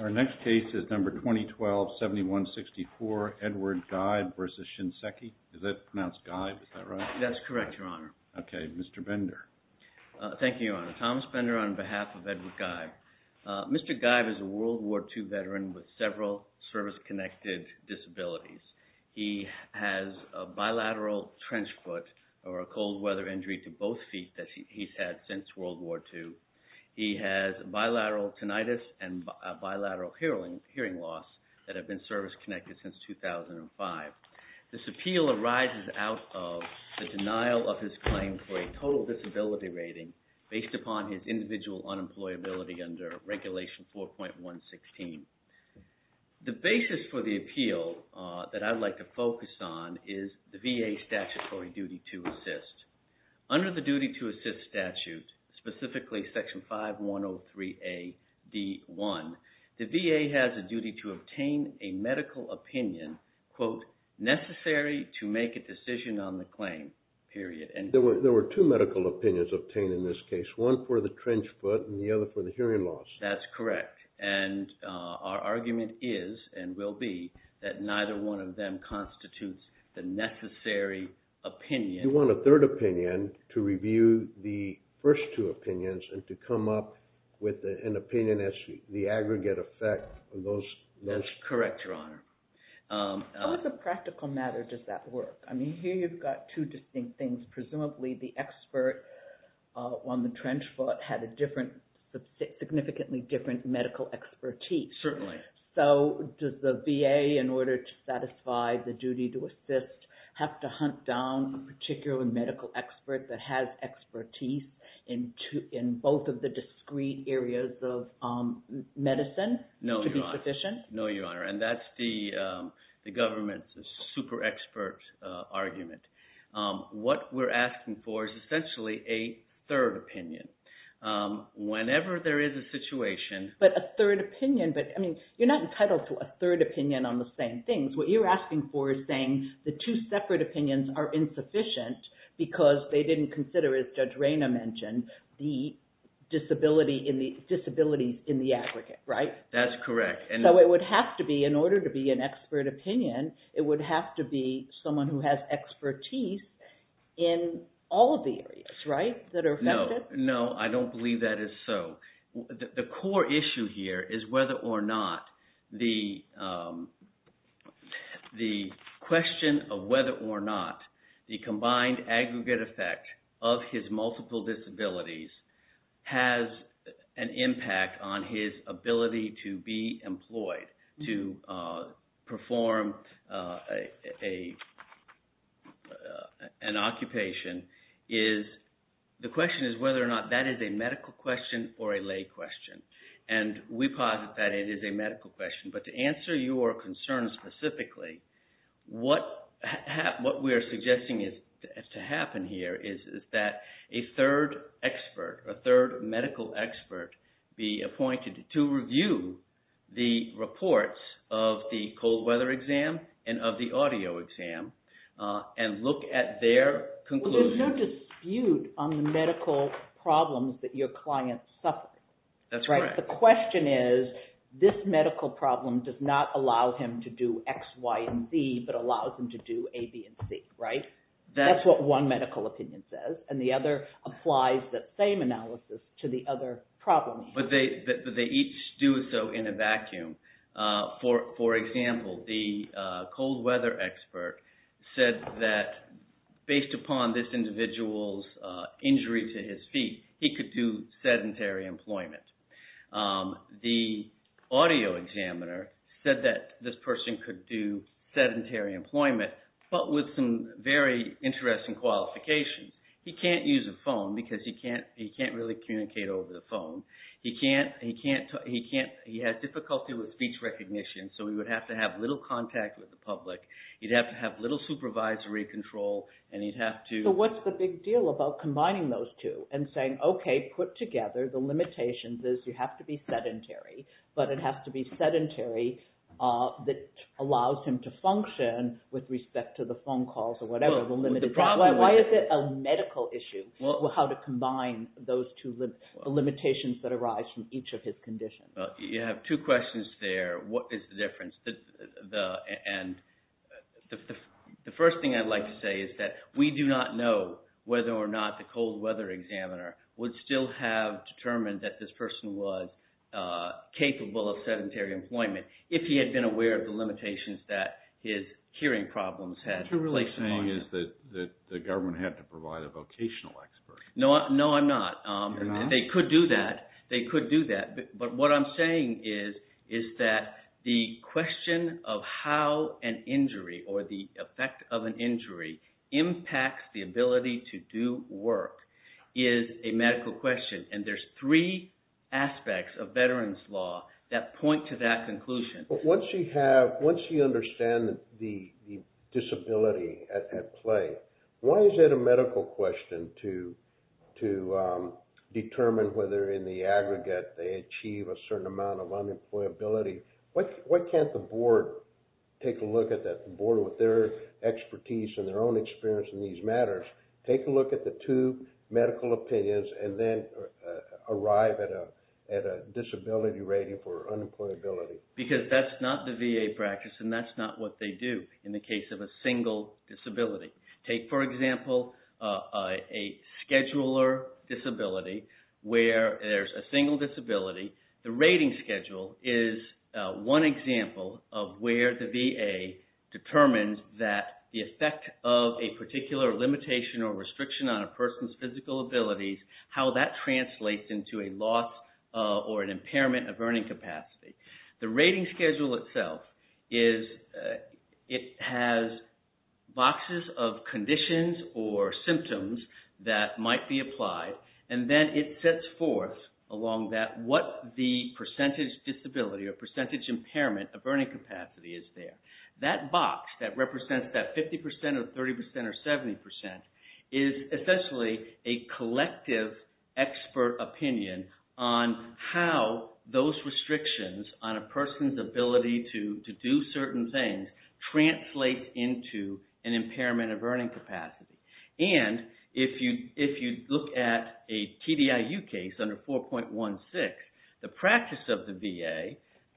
Our next case is number 2012-7164. Thomas Bender on behalf of Edward Geib. Mr. Geib is a WWII veteran with several service-connected disabilities. He has a bilateral trench foot or a cold weather injury to both feet that he's had since WWII. He has bilateral tinnitus and bilateral hearing loss that have been service-connected since 2005. This appeal arises out of the denial of his claim for a total disability rating based upon his individual unemployability under regulation 4.116. The basis for the appeal that I'd like to focus on is the VA statutory duty to assist. Under the duty to assist statute, specifically Section 5103A.D.1, the VA has a duty to obtain a medical opinion, quote, necessary to make a decision on the claim, period. There were two medical opinions obtained in this case, one for the trench foot and the other for the hearing loss. That's correct, and our argument is and will be that neither one of them constitutes the necessary opinion. You want a third opinion to review the first two opinions and to come up with an opinion that's the aggregate effect of those. That's correct, Your Honor. On a practical matter, does that work? I mean, here you've got two distinct things. Presumably the expert on the trench foot had a significantly different medical expertise. Certainly. Does the VA, in order to satisfy the duty to assist, have to hunt down a particular medical expert that has expertise in both of the discrete areas of medicine? No, Your Honor. To be sufficient? No, Your Honor, and that's the government's super expert argument. What we're asking for is essentially a third opinion. Whenever there is a situation… But a third opinion, but I mean, you're not entitled to a third opinion on the same things. What you're asking for is saying the two separate opinions are insufficient because they didn't consider, as Judge Reyna mentioned, the disability in the aggregate, right? That's correct. So it would have to be, in order to be an expert opinion, it would have to be someone who has expertise in all of the areas, right, that are affected? No, I don't believe that is so. The core issue here is whether or not the question of whether or not the combined aggregate effect of his multiple disabilities has an impact on his ability to be employed, to perform an occupation, is… The question is whether or not that is a medical question or a lay question, and we posit that it is a medical question. But to answer your concern specifically, what we are suggesting to happen here is that a third expert, a third medical expert, be appointed to review the reports of the cold weather exam and of the audio exam and look at their conclusion. There's no dispute on the medical problems that your client suffers. That's right. The question is, this medical problem does not allow him to do X, Y, and Z, but allows him to do A, B, and C, right? That's what one medical opinion says, and the other applies that same analysis to the other problem. But they each do so in a vacuum. For example, the cold weather expert said that based upon this individual's injury to his feet, he could do sedentary employment. The audio examiner said that this person could do sedentary employment, but with some very interesting qualifications. He can't use a phone because he can't really communicate over the phone. He has difficulty with speech recognition, so he would have to have little contact with the public. He'd have to have little supervisory control, and he'd have to… So what's the big deal about combining those two and saying, okay, put together the limitations is you have to be sedentary, but it has to be sedentary that allows him to function with respect to the phone calls or whatever. Why is it a medical issue how to combine those two limitations that arise from each of his conditions? You have two questions there. What is the difference? The first thing I'd like to say is that we do not know whether or not the cold weather examiner would still have determined that this person was capable of sedentary employment if he had been aware of the limitations that his hearing problems had. What you're really saying is that the government had to provide a vocational expert. No, I'm not. You're not? They could do that. They could do that. But what I'm saying is that the question of how an injury or the effect of an injury impacts the ability to do work is a medical question, and there's three aspects of veterans' law that point to that conclusion. Once you understand the disability at play, why is it a medical question to determine whether in the aggregate they achieve a certain amount of unemployability? Why can't the board take a look at that, the board with their expertise and their own experience in these matters, take a look at the two medical opinions and then arrive at a disability rating for unemployability? Because that's not the VA practice and that's not what they do in the case of a single disability. Take, for example, a scheduler disability where there's a single disability. The rating schedule is one example of where the VA determines that the effect of a particular limitation or restriction on a person's physical abilities, how that translates into a loss or an impairment of earning capacity. The rating schedule itself is – it has boxes of conditions or symptoms that might be applied, and then it sets forth along that what the percentage disability or percentage impairment of earning capacity is there. That box that represents that 50% or 30% or 70% is essentially a collective expert opinion on how those restrictions on a person's ability to do certain things translate into an impairment of earning capacity. If you look at a TDIU case under 4.16, the practice of the VA,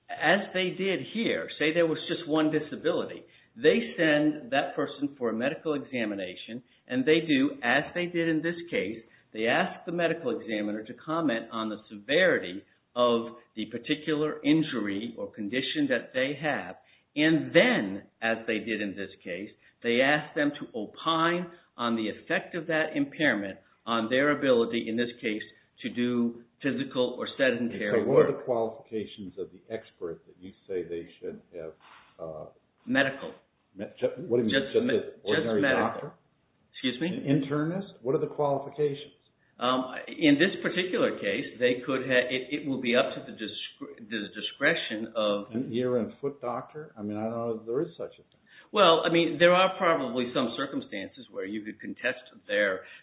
as they did here, say there was just one disability, they send that person for a medical examination and they do as they did in this case, they ask the medical examiner to comment on the severity of the particular injury or condition that they have. Then, as they did in this case, they ask them to opine on the effect of that impairment on their ability, in this case, to do physical or sedentary work. What are the qualifications of the experts that you say they should have? Medical. Just medical? Excuse me? Internist? What are the qualifications? In this particular case, it will be up to the discretion of… I don't know if there is such a thing. Well, I mean, there are probably some circumstances where you could contest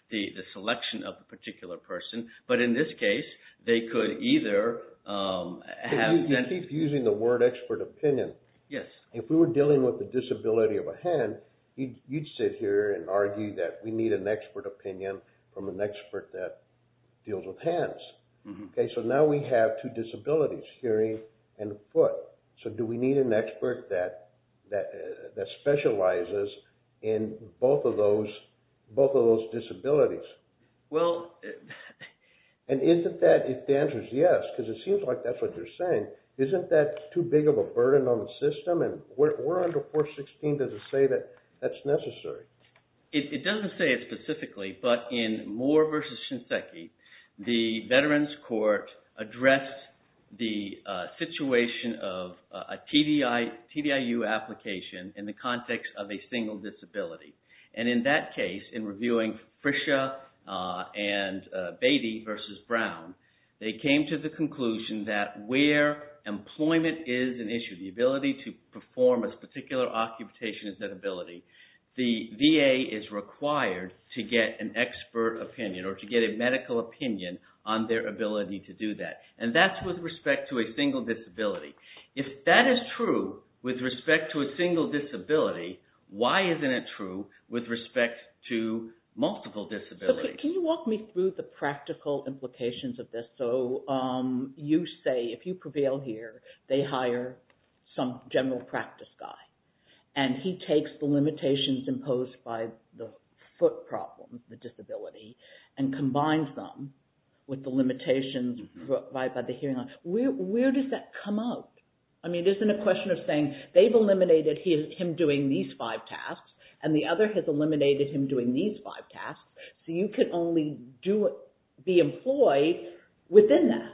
the selection of a particular person, but in this case, they could either… You keep using the word expert opinion. Yes. If we were dealing with the disability of a hand, you'd sit here and argue that we need an expert opinion from an expert that deals with hands. So, now we have two disabilities, hearing and foot. So, do we need an expert that specializes in both of those disabilities? Well… And isn't that, if the answer is yes, because it seems like that's what you're saying, isn't that too big of a burden on the system? And where under 416 does it say that that's necessary? It doesn't say it specifically, but in Moore v. Shinseki, the Veterans Court addressed the situation of a TDIU application in the context of a single disability. And in that case, in reviewing Frisha and Beatty v. Brown, they came to the conclusion that where employment is an issue, the ability to perform a particular occupation is an ability, the VA is required to get an expert opinion or to get a medical opinion on their ability to do that. And that's with respect to a single disability. If that is true with respect to a single disability, why isn't it true with respect to multiple disabilities? Can you walk me through the practical implications of this? So, you say, if you prevail here, they hire some general practice guy. And he takes the limitations imposed by the foot problem, the disability, and combines them with the limitations by the hearing. Where does that come out? I mean, it isn't a question of saying they've eliminated him doing these five tasks, and the other has eliminated him doing these five tasks. So, you can only be employed within that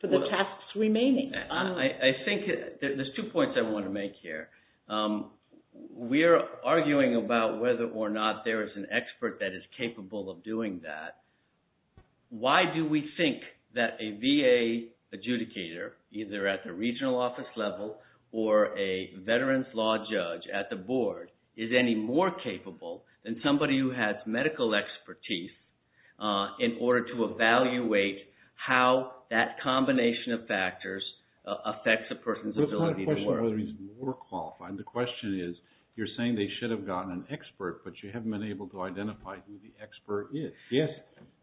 for the tasks remaining. I think there's two points I want to make here. We're arguing about whether or not there is an expert that is capable of doing that. Why do we think that a VA adjudicator, either at the regional office level or a veterans law judge at the board, is any more capable than somebody who has medical expertise in order to evaluate how that combination of factors affects a person's ability to work? It's not a question of whether he's more qualified. The question is, you're saying they should have gotten an expert, but you haven't been able to identify who the expert is. Yes,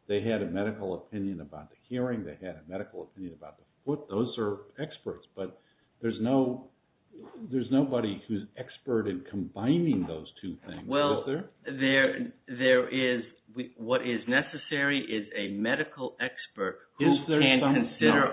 they had a medical opinion about the hearing. They had a medical opinion about the foot. Those are experts, but there's nobody who's an expert in combining those two things. Well, what is necessary is a medical expert who can consider...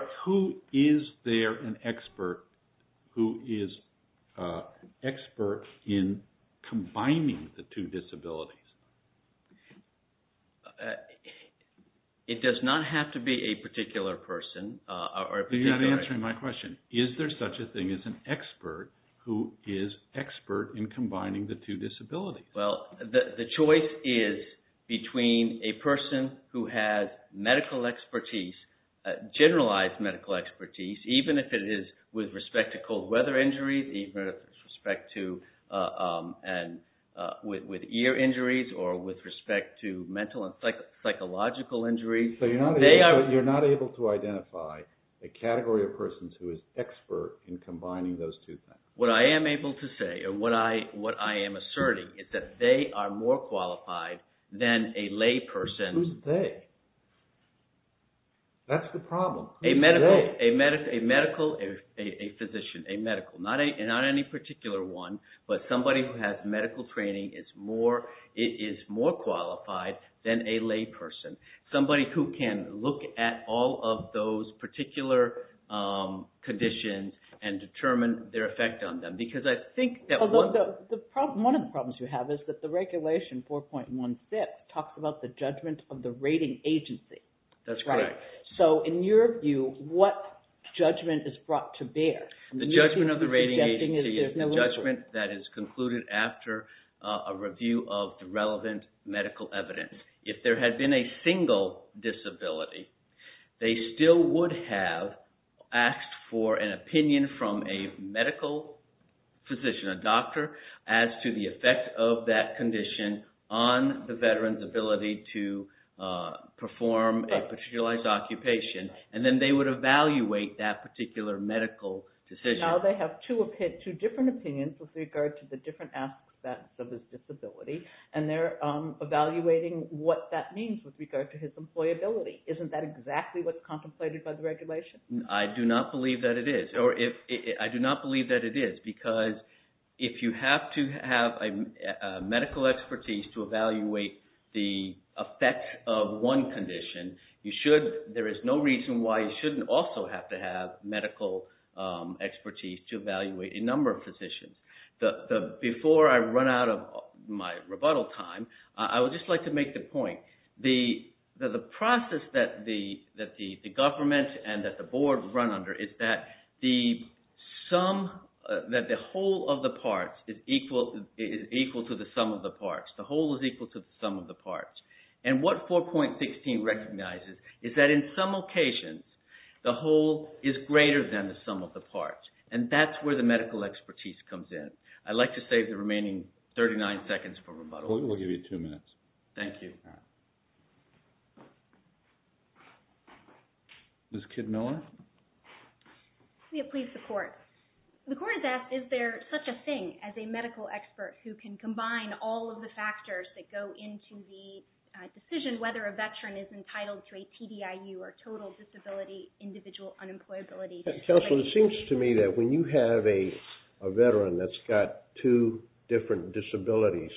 It does not have to be a particular person. You're not answering my question. Is there such a thing as an expert who is expert in combining the two disabilities? Well, the choice is between a person who has medical expertise, generalized medical expertise, even if it is with respect to cold weather injuries, even with respect to ear injuries, or with respect to mental and psychological injuries. So you're not able to identify a category of persons who is expert in combining those two things. What I am able to say, or what I am asserting, is that they are more qualified than a lay person. Who's they? That's the problem. A physician, a medical. Not any particular one, but somebody who has medical training is more qualified than a lay person. Somebody who can look at all of those particular conditions and determine their effect on them. One of the problems you have is that the regulation 4.16 talks about the judgment of the rating agency. That's correct. So in your view, what judgment is brought to bear? The judgment of the rating agency is the judgment that is concluded after a review of the relevant medical evidence. If there had been a single disability, they still would have asked for an opinion from a medical physician, a doctor, as to the effect of that condition on the veteran's ability to perform a particular occupation. And then they would evaluate that particular medical decision. Now they have two different opinions with regard to the different aspects of his disability, and they're evaluating what that means with regard to his employability. Isn't that exactly what's contemplated by the regulation? I do not believe that it is, because if you have to have medical expertise to evaluate the effect of one condition, there is no reason why you shouldn't also have to have medical expertise to evaluate a number of physicians. Before I run out of my rebuttal time, I would just like to make the point. The process that the government and that the board run under is that the whole of the parts is equal to the sum of the parts. The whole is equal to the sum of the parts. And what 4.16 recognizes is that in some occasions, the whole is greater than the sum of the parts. And that's where the medical expertise comes in. I'd like to save the remaining 39 seconds for rebuttal. We'll give you two minutes. Thank you. Ms. Kidmiller? Please, the court. The court has asked, is there such a thing as a medical expert who can combine all of the factors that go into the decision whether a veteran is entitled to a TDIU or total disability individual unemployability? Counsel, it seems to me that when you have a veteran that's got two different disabilities,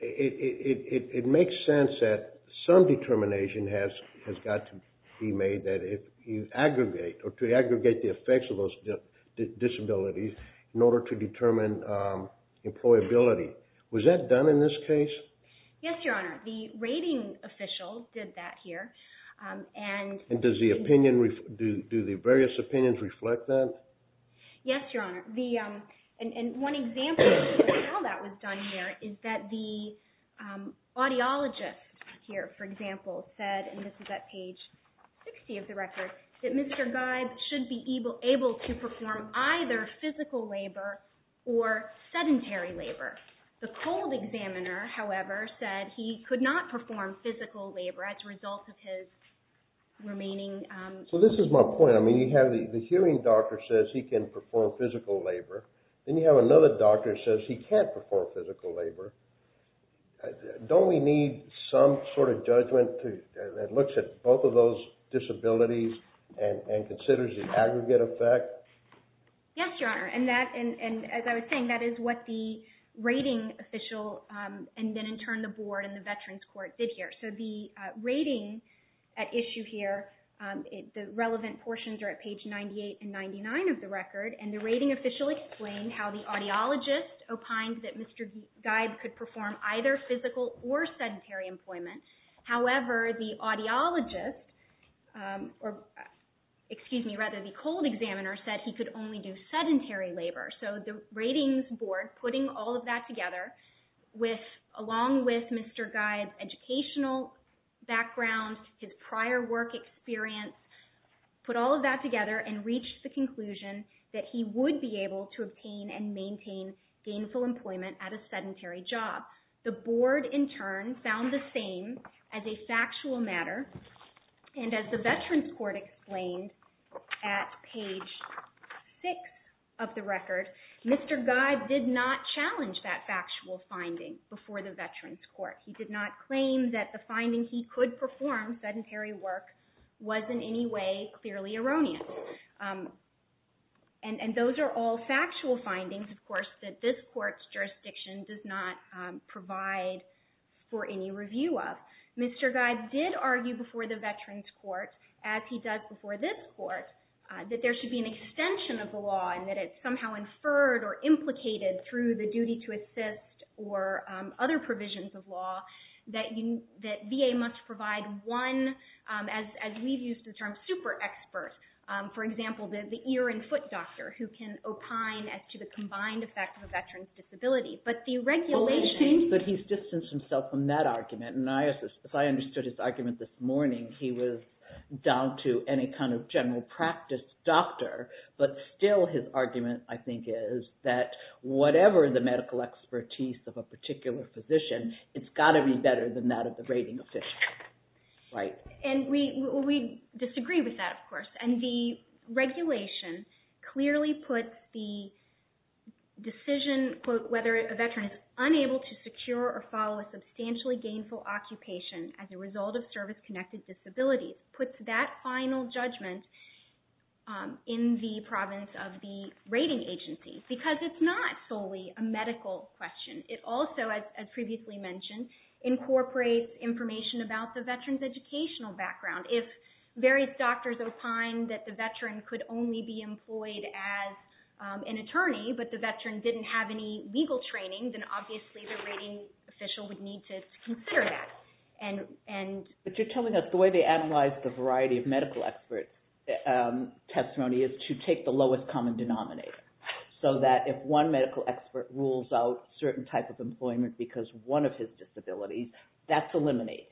it makes sense that some determination has got to be made that if you aggregate or to aggregate the effects of those disabilities in order to determine employability. Was that done in this case? Yes, Your Honor. The rating official did that here. And does the opinion, do the various opinions reflect that? Yes, Your Honor. And one example of how that was done here is that the audiologist here, for example, said, and this is at page 60 of the record, that Mr. Gibe should be able to perform either physical labor or sedentary labor. The cold examiner, however, said he could not perform physical labor as a result of his remaining. So this is my point. I mean, you have the hearing doctor says he can perform physical labor, then you have another doctor says he can't perform physical labor. Don't we need some sort of judgment that looks at both of those disabilities and considers the aggregate effect? Yes, Your Honor, and as I was saying, that is what the rating official and then in turn the board and the veterans court did here. So the rating at issue here, the relevant portions are at page 98 and 99 of the record, and the rating official explained how the audiologist opined that Mr. Gibe could perform either physical or sedentary employment. However, the audiologist, or excuse me, rather the cold examiner said he could only do sedentary labor. So the ratings board, putting all of that together, along with Mr. Gibe's educational background, his prior work experience, put all of that together and reached the conclusion that he would be able to obtain and maintain gainful employment at a sedentary job. The board in turn found the same as a factual matter, and as the veterans court explained at page 6 of the record, Mr. Gibe did not challenge that factual finding before the veterans court. He did not claim that the finding he could perform sedentary work was in any way clearly erroneous. And those are all factual findings, of course, that this court's jurisdiction does not provide for any review of. Mr. Gibe did argue before the veterans court, as he does before this court, that there should be an extension of the law and that it's somehow inferred or implicated through the duty to assist or other provisions of law that VA must provide one, as we've used the term, super expert. For example, the ear and foot doctor who can opine as to the combined effect of a veteran's disability. But he's distanced himself from that argument. If I understood his argument this morning, he was down to any kind of general practice doctor, but still his argument, I think, is that whatever the medical expertise of a particular physician, it's got to be better than that of the rating official. We disagree with that, of course. And the regulation clearly puts the decision, quote, whether a veteran is unable to secure or follow a substantially gainful occupation as a result of service-connected disability, puts that final judgment in the province of the rating agency, because it's not solely a medical question. It also, as previously mentioned, incorporates information about the veteran's educational background. If various doctors opine that the veteran could only be employed as an attorney, but the veteran didn't have any legal training, then obviously the rating official would need to consider that. But you're telling us the way they analyze the variety of medical expert testimony is to take the lowest common denominator, so that if one medical expert rules out a certain type of employment because of one of his disabilities, that's eliminated.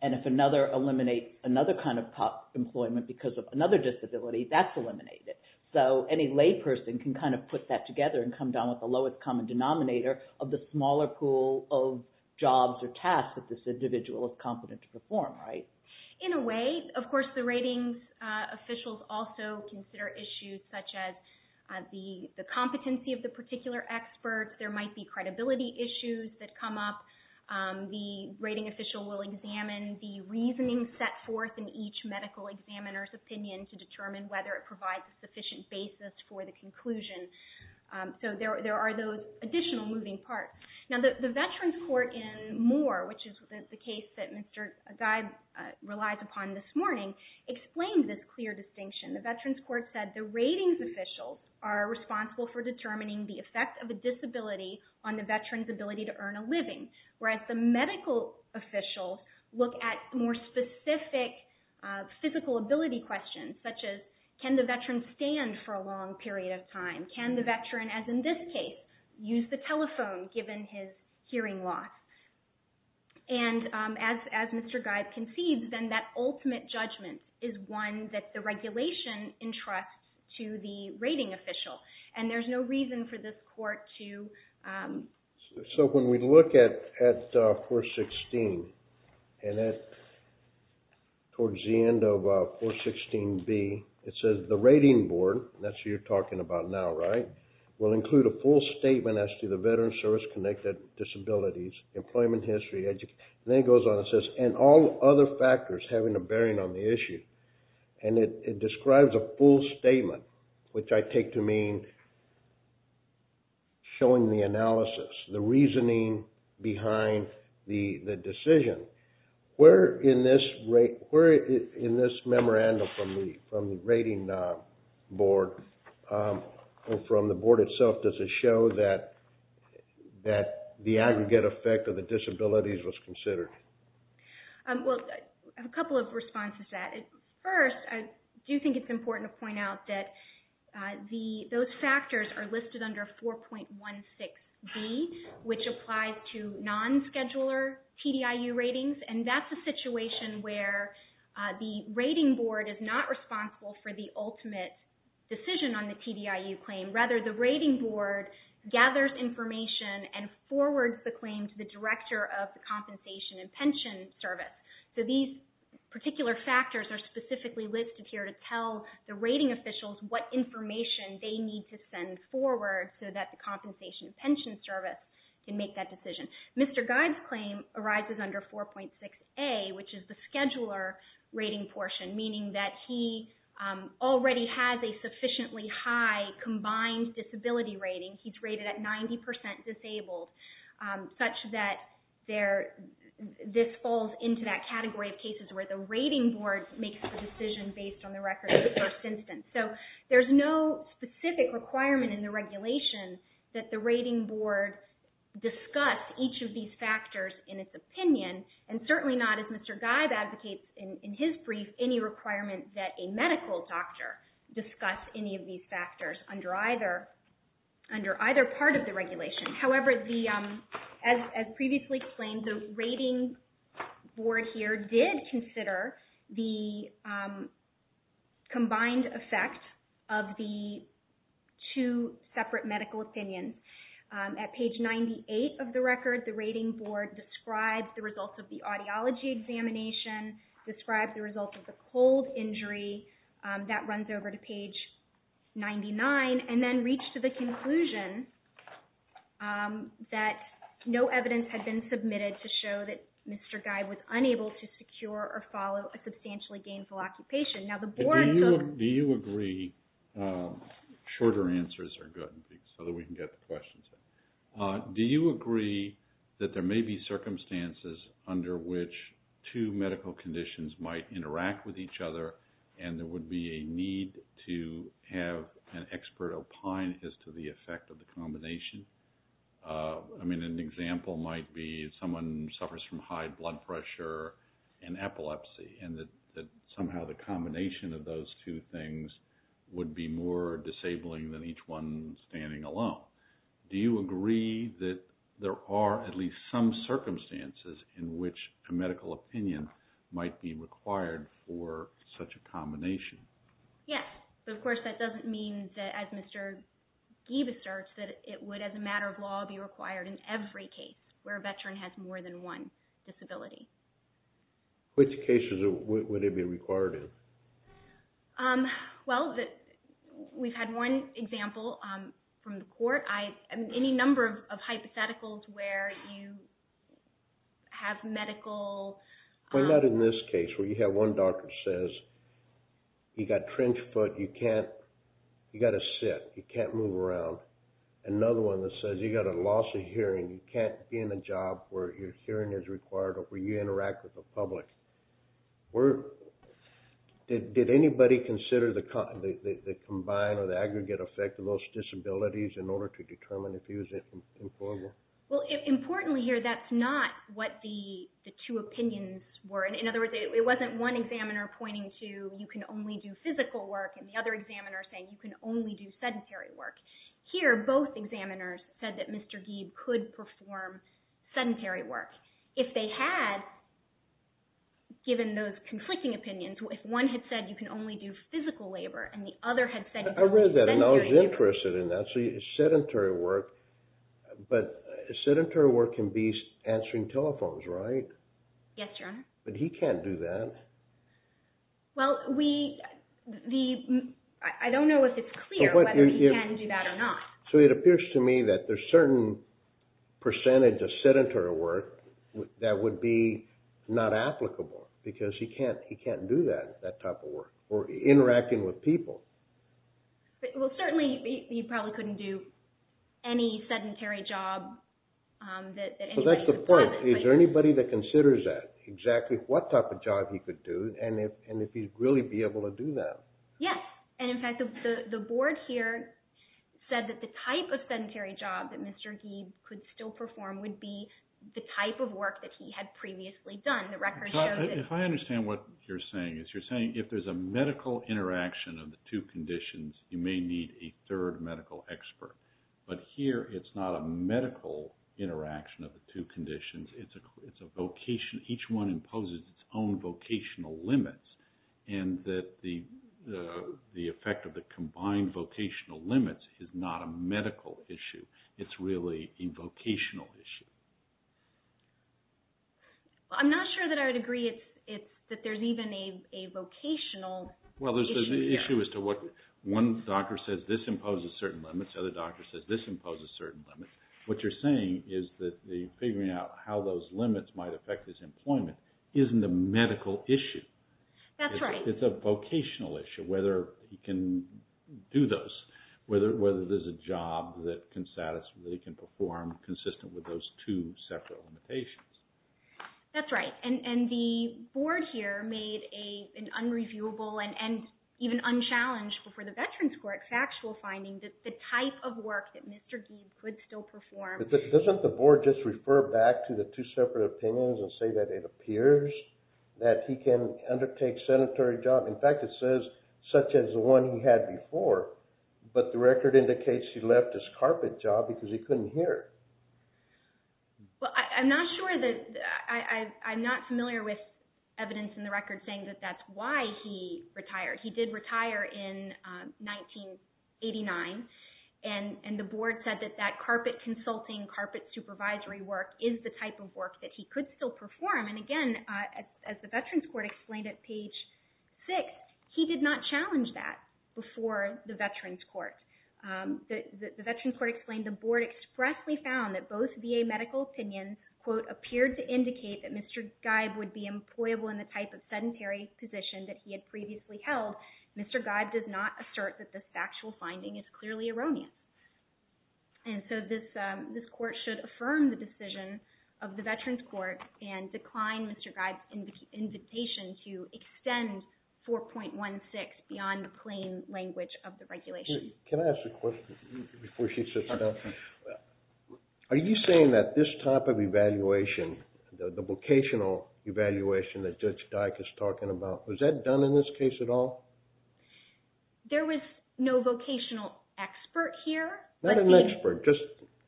And if another eliminates another kind of employment because of another disability, that's eliminated. So any layperson can kind of put that together and come down with the lowest common denominator of the smaller pool of jobs or tasks that this individual is competent to perform, right? In a way, of course, the ratings officials also consider issues such as the competency of the particular expert. There might be credibility issues that come up. The rating official will examine the reasoning set forth in each medical examiner's opinion to determine whether it provides a sufficient basis for the conclusion. So there are those additional moving parts. Now, the Veterans Court in Moore, which is the case that Mr. Gide relies upon this morning, explains this clear distinction. on the veteran's ability to earn a living, whereas the medical officials look at more specific physical ability questions, such as can the veteran stand for a long period of time? Can the veteran, as in this case, use the telephone given his hearing loss? And as Mr. Gide concedes, then that ultimate judgment is one that the regulation entrusts to the rating official. And there's no reason for this court to... So when we look at 416, and towards the end of 416B, it says the rating board, and that's who you're talking about now, right, will include a full statement as to the veteran's service-connected disabilities, employment history, and then it goes on and says, and all other factors having a bearing on the issue. And it describes a full statement, which I take to mean showing the analysis, the reasoning behind the decision. Where in this memorandum from the rating board and from the board itself, does it show that the aggregate effect of the disabilities was considered? Well, a couple of responses to that. First, I do think it's important to point out that those factors are listed under 4.16B, which applies to non-scheduler TDIU ratings, and that's a situation where the rating board is not responsible for the ultimate decision on the TDIU claim. Rather, the rating board gathers information and forwards the claim to the director of the Compensation and Pension Service. So these particular factors are specifically listed here to tell the rating officials what information they need to send forward so that the Compensation and Pension Service can make that decision. Mr. Guyde's claim arises under 4.6A, which is the scheduler rating portion, meaning that he already has a sufficiently high combined disability rating. He's rated at 90% disabled, such that this falls into that category of cases where the rating board makes the decision based on the records of the first instance. So there's no specific requirement in the regulation that the rating board discuss each of these factors in its opinion, and certainly not, as Mr. Guyde advocates in his brief, any requirement that a medical doctor discuss any of these factors under either part of the regulation. However, as previously explained, the rating board here did consider the combined effect of the two separate medical opinions. At page 98 of the record, the rating board describes the results of the audiology examination, describes the results of the cold injury, that runs over to page 99, and then reached to the conclusion that no evidence had been submitted to show that Mr. Guyde was unable to secure or follow a substantially gainful occupation. Now the board... Do you agree, shorter answers are good, so that we can get to questions. Do you agree that there may be circumstances under which two medical conditions might interact with each other, and there would be a need to have an expert opine as to the effect of the combination? I mean, an example might be if someone suffers from high blood pressure and epilepsy, and that somehow the combination of those two things would be more disabling than each one standing alone. Do you agree that there are at least some circumstances in which a medical opinion might be required for such a combination? Yes, but of course that doesn't mean that, as Mr. Guyde asserts, that it would, as a matter of law, be required in every case where a veteran has more than one disability. Which cases would it be required in? Well, we've had one example from the court. Any number of hypotheticals where you have medical... Well, not in this case, where you have one doctor who says, you've got trench foot, you've got to sit, you can't move around. Another one that says you've got a loss of hearing, you can't be in a job where your hearing is required or where you interact with the public. Did anybody consider the combined or the aggregate effect of those disabilities in order to determine if he was employable? Well, importantly here, that's not what the two opinions were. In other words, it wasn't one examiner pointing to you can only do physical work and the other examiner saying you can only do sedentary work. Here, both examiners said that Mr. Guyde could perform sedentary work. If they had, given those conflicting opinions, if one had said you can only do physical labor and the other had said... I read that and I was interested in that. So sedentary work can be answering telephones, right? Yes, Your Honor. But he can't do that. Well, I don't know if it's clear whether he can do that or not. So it appears to me that there's a certain percentage of sedentary work that would be not applicable because he can't do that type of work or interacting with people. Well, certainly he probably couldn't do any sedentary job that anybody would plan. Well, that's the point. Is there anybody that considers that, exactly what type of job he could do and if he'd really be able to do that? Yes, and in fact the board here said that the type of sedentary job that Mr. Guyde could still perform would be the type of work that he had previously done. If I understand what you're saying, you're saying if there's a medical interaction of the two conditions, you may need a third medical expert. But here it's not a medical interaction of the two conditions. It's a vocation. Each one imposes its own vocational limits and that the effect of the combined vocational limits is not a medical issue. It's really a vocational issue. I'm not sure that I would agree that there's even a vocational issue here. Well, there's an issue as to what one doctor says this imposes certain limits, the other doctor says this imposes certain limits. What you're saying is that figuring out how those limits might affect his employment isn't a medical issue. That's right. It's a vocational issue, whether he can do those, whether there's a job that he can perform consistent with those two separate limitations. That's right, and the board here made an unreviewable and even unchallenged for the Veterans Court factual finding that the type of work that Mr. Guyde could still perform. Doesn't the board just refer back to the two separate opinions and say that it appears that he can undertake sanitary jobs? In fact, it says such as the one he had before, but the record indicates he left his carpet job because he couldn't hear. Well, I'm not familiar with evidence in the record saying that that's why he retired. He did retire in 1989, and the board said that that carpet consulting, carpet supervisory work is the type of work that he could still perform, and again, as the Veterans Court explained at page 6, he did not challenge that before the Veterans Court. The Veterans Court explained the board expressly found that both VA medical opinions, quote, appeared to indicate that Mr. Guyde would be employable in the type of sedentary position that he had previously held. Well, Mr. Guyde does not assert that this factual finding is clearly erroneous, and so this court should affirm the decision of the Veterans Court and decline Mr. Guyde's invitation to extend 4.16 beyond the plain language of the regulation. Can I ask a question before she sits down? Are you saying that this type of evaluation, the vocational evaluation that Judge Dyke is talking about, was that done in this case at all? There was no vocational expert here. Not an expert, just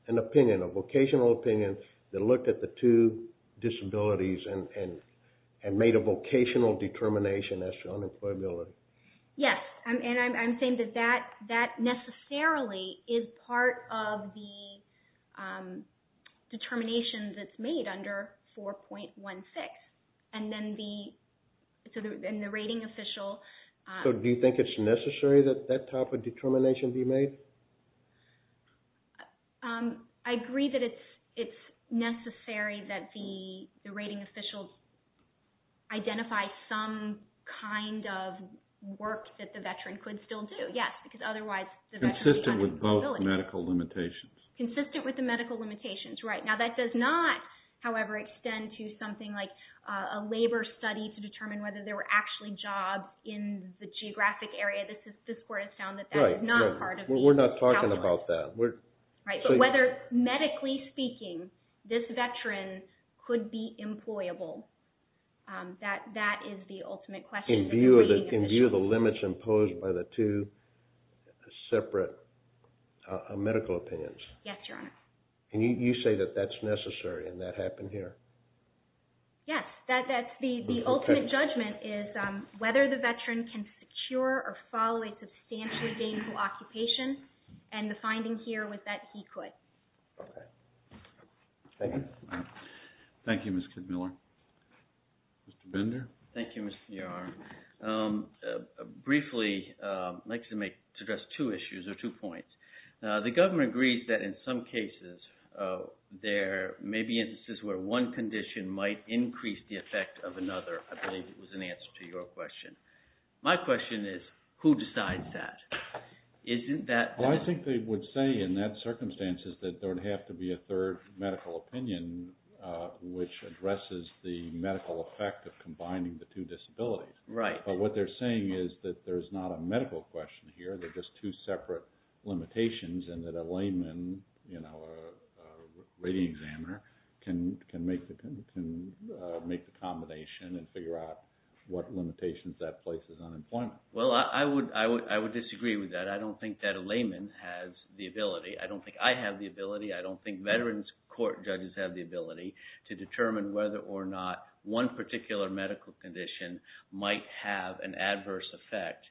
an opinion, a vocational opinion that looked at the two disabilities and made a vocational determination as to unemployability. Yes, and I'm saying that that necessarily is part of the determination that's made under 4.16, and then the rating official... So do you think it's necessary that that type of determination be made? I agree that it's necessary that the rating official identify some kind of work that the Veteran could still do. Yes, because otherwise the Veteran... Consistent with both medical limitations. Consistent with the medical limitations, right. Now that does not, however, extend to something like a labor study to determine whether there were actually jobs in the geographic area. This Court has found that that is not part of the calculation. We're not talking about that. So whether medically speaking this Veteran could be employable, that is the ultimate question. In view of the limits imposed by the two separate medical opinions. Yes, Your Honor. And you say that that's necessary and that happened here? Yes, the ultimate judgment is whether the Veteran can secure or follow a substantially gainful occupation, and the finding here was that he could. Okay. Thank you. Thank you, Ms. Kidmiller. Mr. Bender? Thank you, Mr. Muir. Briefly, I'd like to address two issues or two points. The government agrees that in some cases there may be instances where one condition might increase the effect of another. I believe it was an answer to your question. My question is who decides that? Isn't that... Well, I think they would say in that circumstance that there would have to be a third medical opinion which addresses the medical effect of combining the two disabilities. Right. But what they're saying is that there's not a medical question here. There are just two separate limitations and that a layman, you know, a rating examiner, can make the combination and figure out what limitations that places on employment. Well, I would disagree with that. I don't think that a layman has the ability. I don't think I have the ability. I don't think Veterans Court judges have the ability to determine whether or not one particular medical condition might have an adverse effect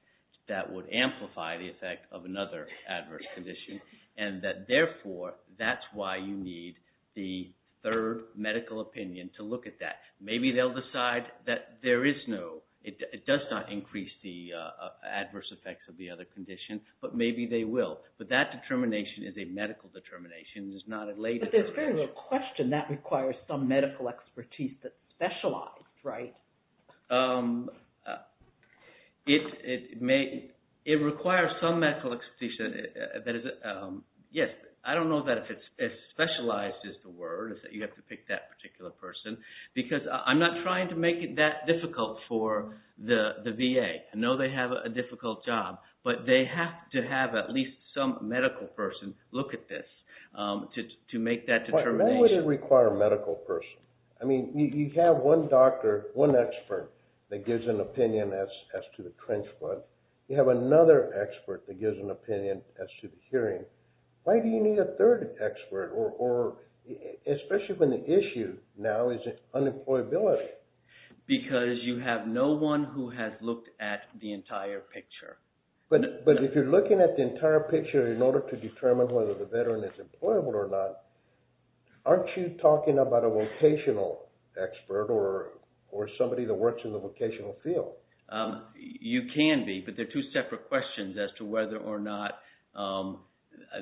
that would amplify the effect of another adverse condition and that, therefore, that's why you need the third medical opinion to look at that. Maybe they'll decide that there is no... It does not increase the adverse effects of the other condition, but maybe they will. But that determination is a medical determination. It's not a layman's... But there's very little question that requires some medical expertise that specializes, right? Um... It may... It requires some medical expertise that is... Yes, I don't know that if it's... If specialized is the word, is that you have to pick that particular person, because I'm not trying to make it that difficult for the VA. I know they have a difficult job, but they have to have at least some medical person look at this to make that determination. Why would it require a medical person? I mean, you have one doctor, one expert, that gives an opinion as to the trench flood. You have another expert that gives an opinion as to the hearing. Why do you need a third expert? Or... Especially when the issue now is unemployability. Because you have no one who has looked at the entire picture. But if you're looking at the entire picture in order to determine whether the Veteran is employable or not, aren't you talking about a vocational expert or somebody that works in the vocational field? You can be, but they're two separate questions as to whether or not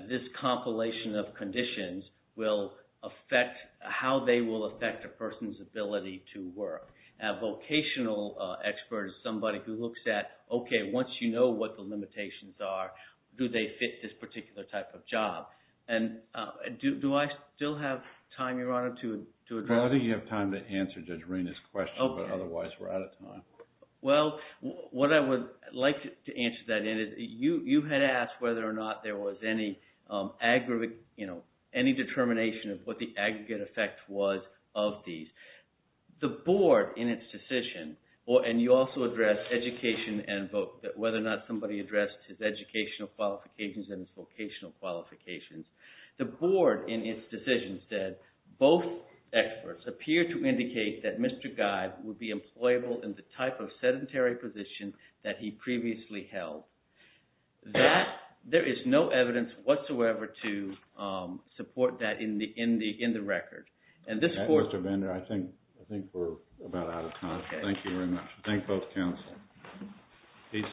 this compilation of conditions will affect... how they will affect a person's ability to work. A vocational expert is somebody who looks at, okay, once you know what the limitations are, do they fit this particular type of job? And do I still have time, Your Honor, to address... Probably you have time to answer Judge Rina's question, but otherwise we're out of time. Well, what I would like to answer that in is, you had asked whether or not there was any aggregate... any determination of what the aggregate effect was of these. The Board, in its decision, and you also addressed education and whether or not somebody addressed his educational qualifications and his vocational qualifications. The Board, in its decision, said, both experts appear to indicate that Mr. Guy would be employable in the type of sedentary position that he previously held. There is no evidence whatsoever to support that in the record. And this Court... Mr. Bender, I think we're about out of time. Thank you very much. Thank both counsel.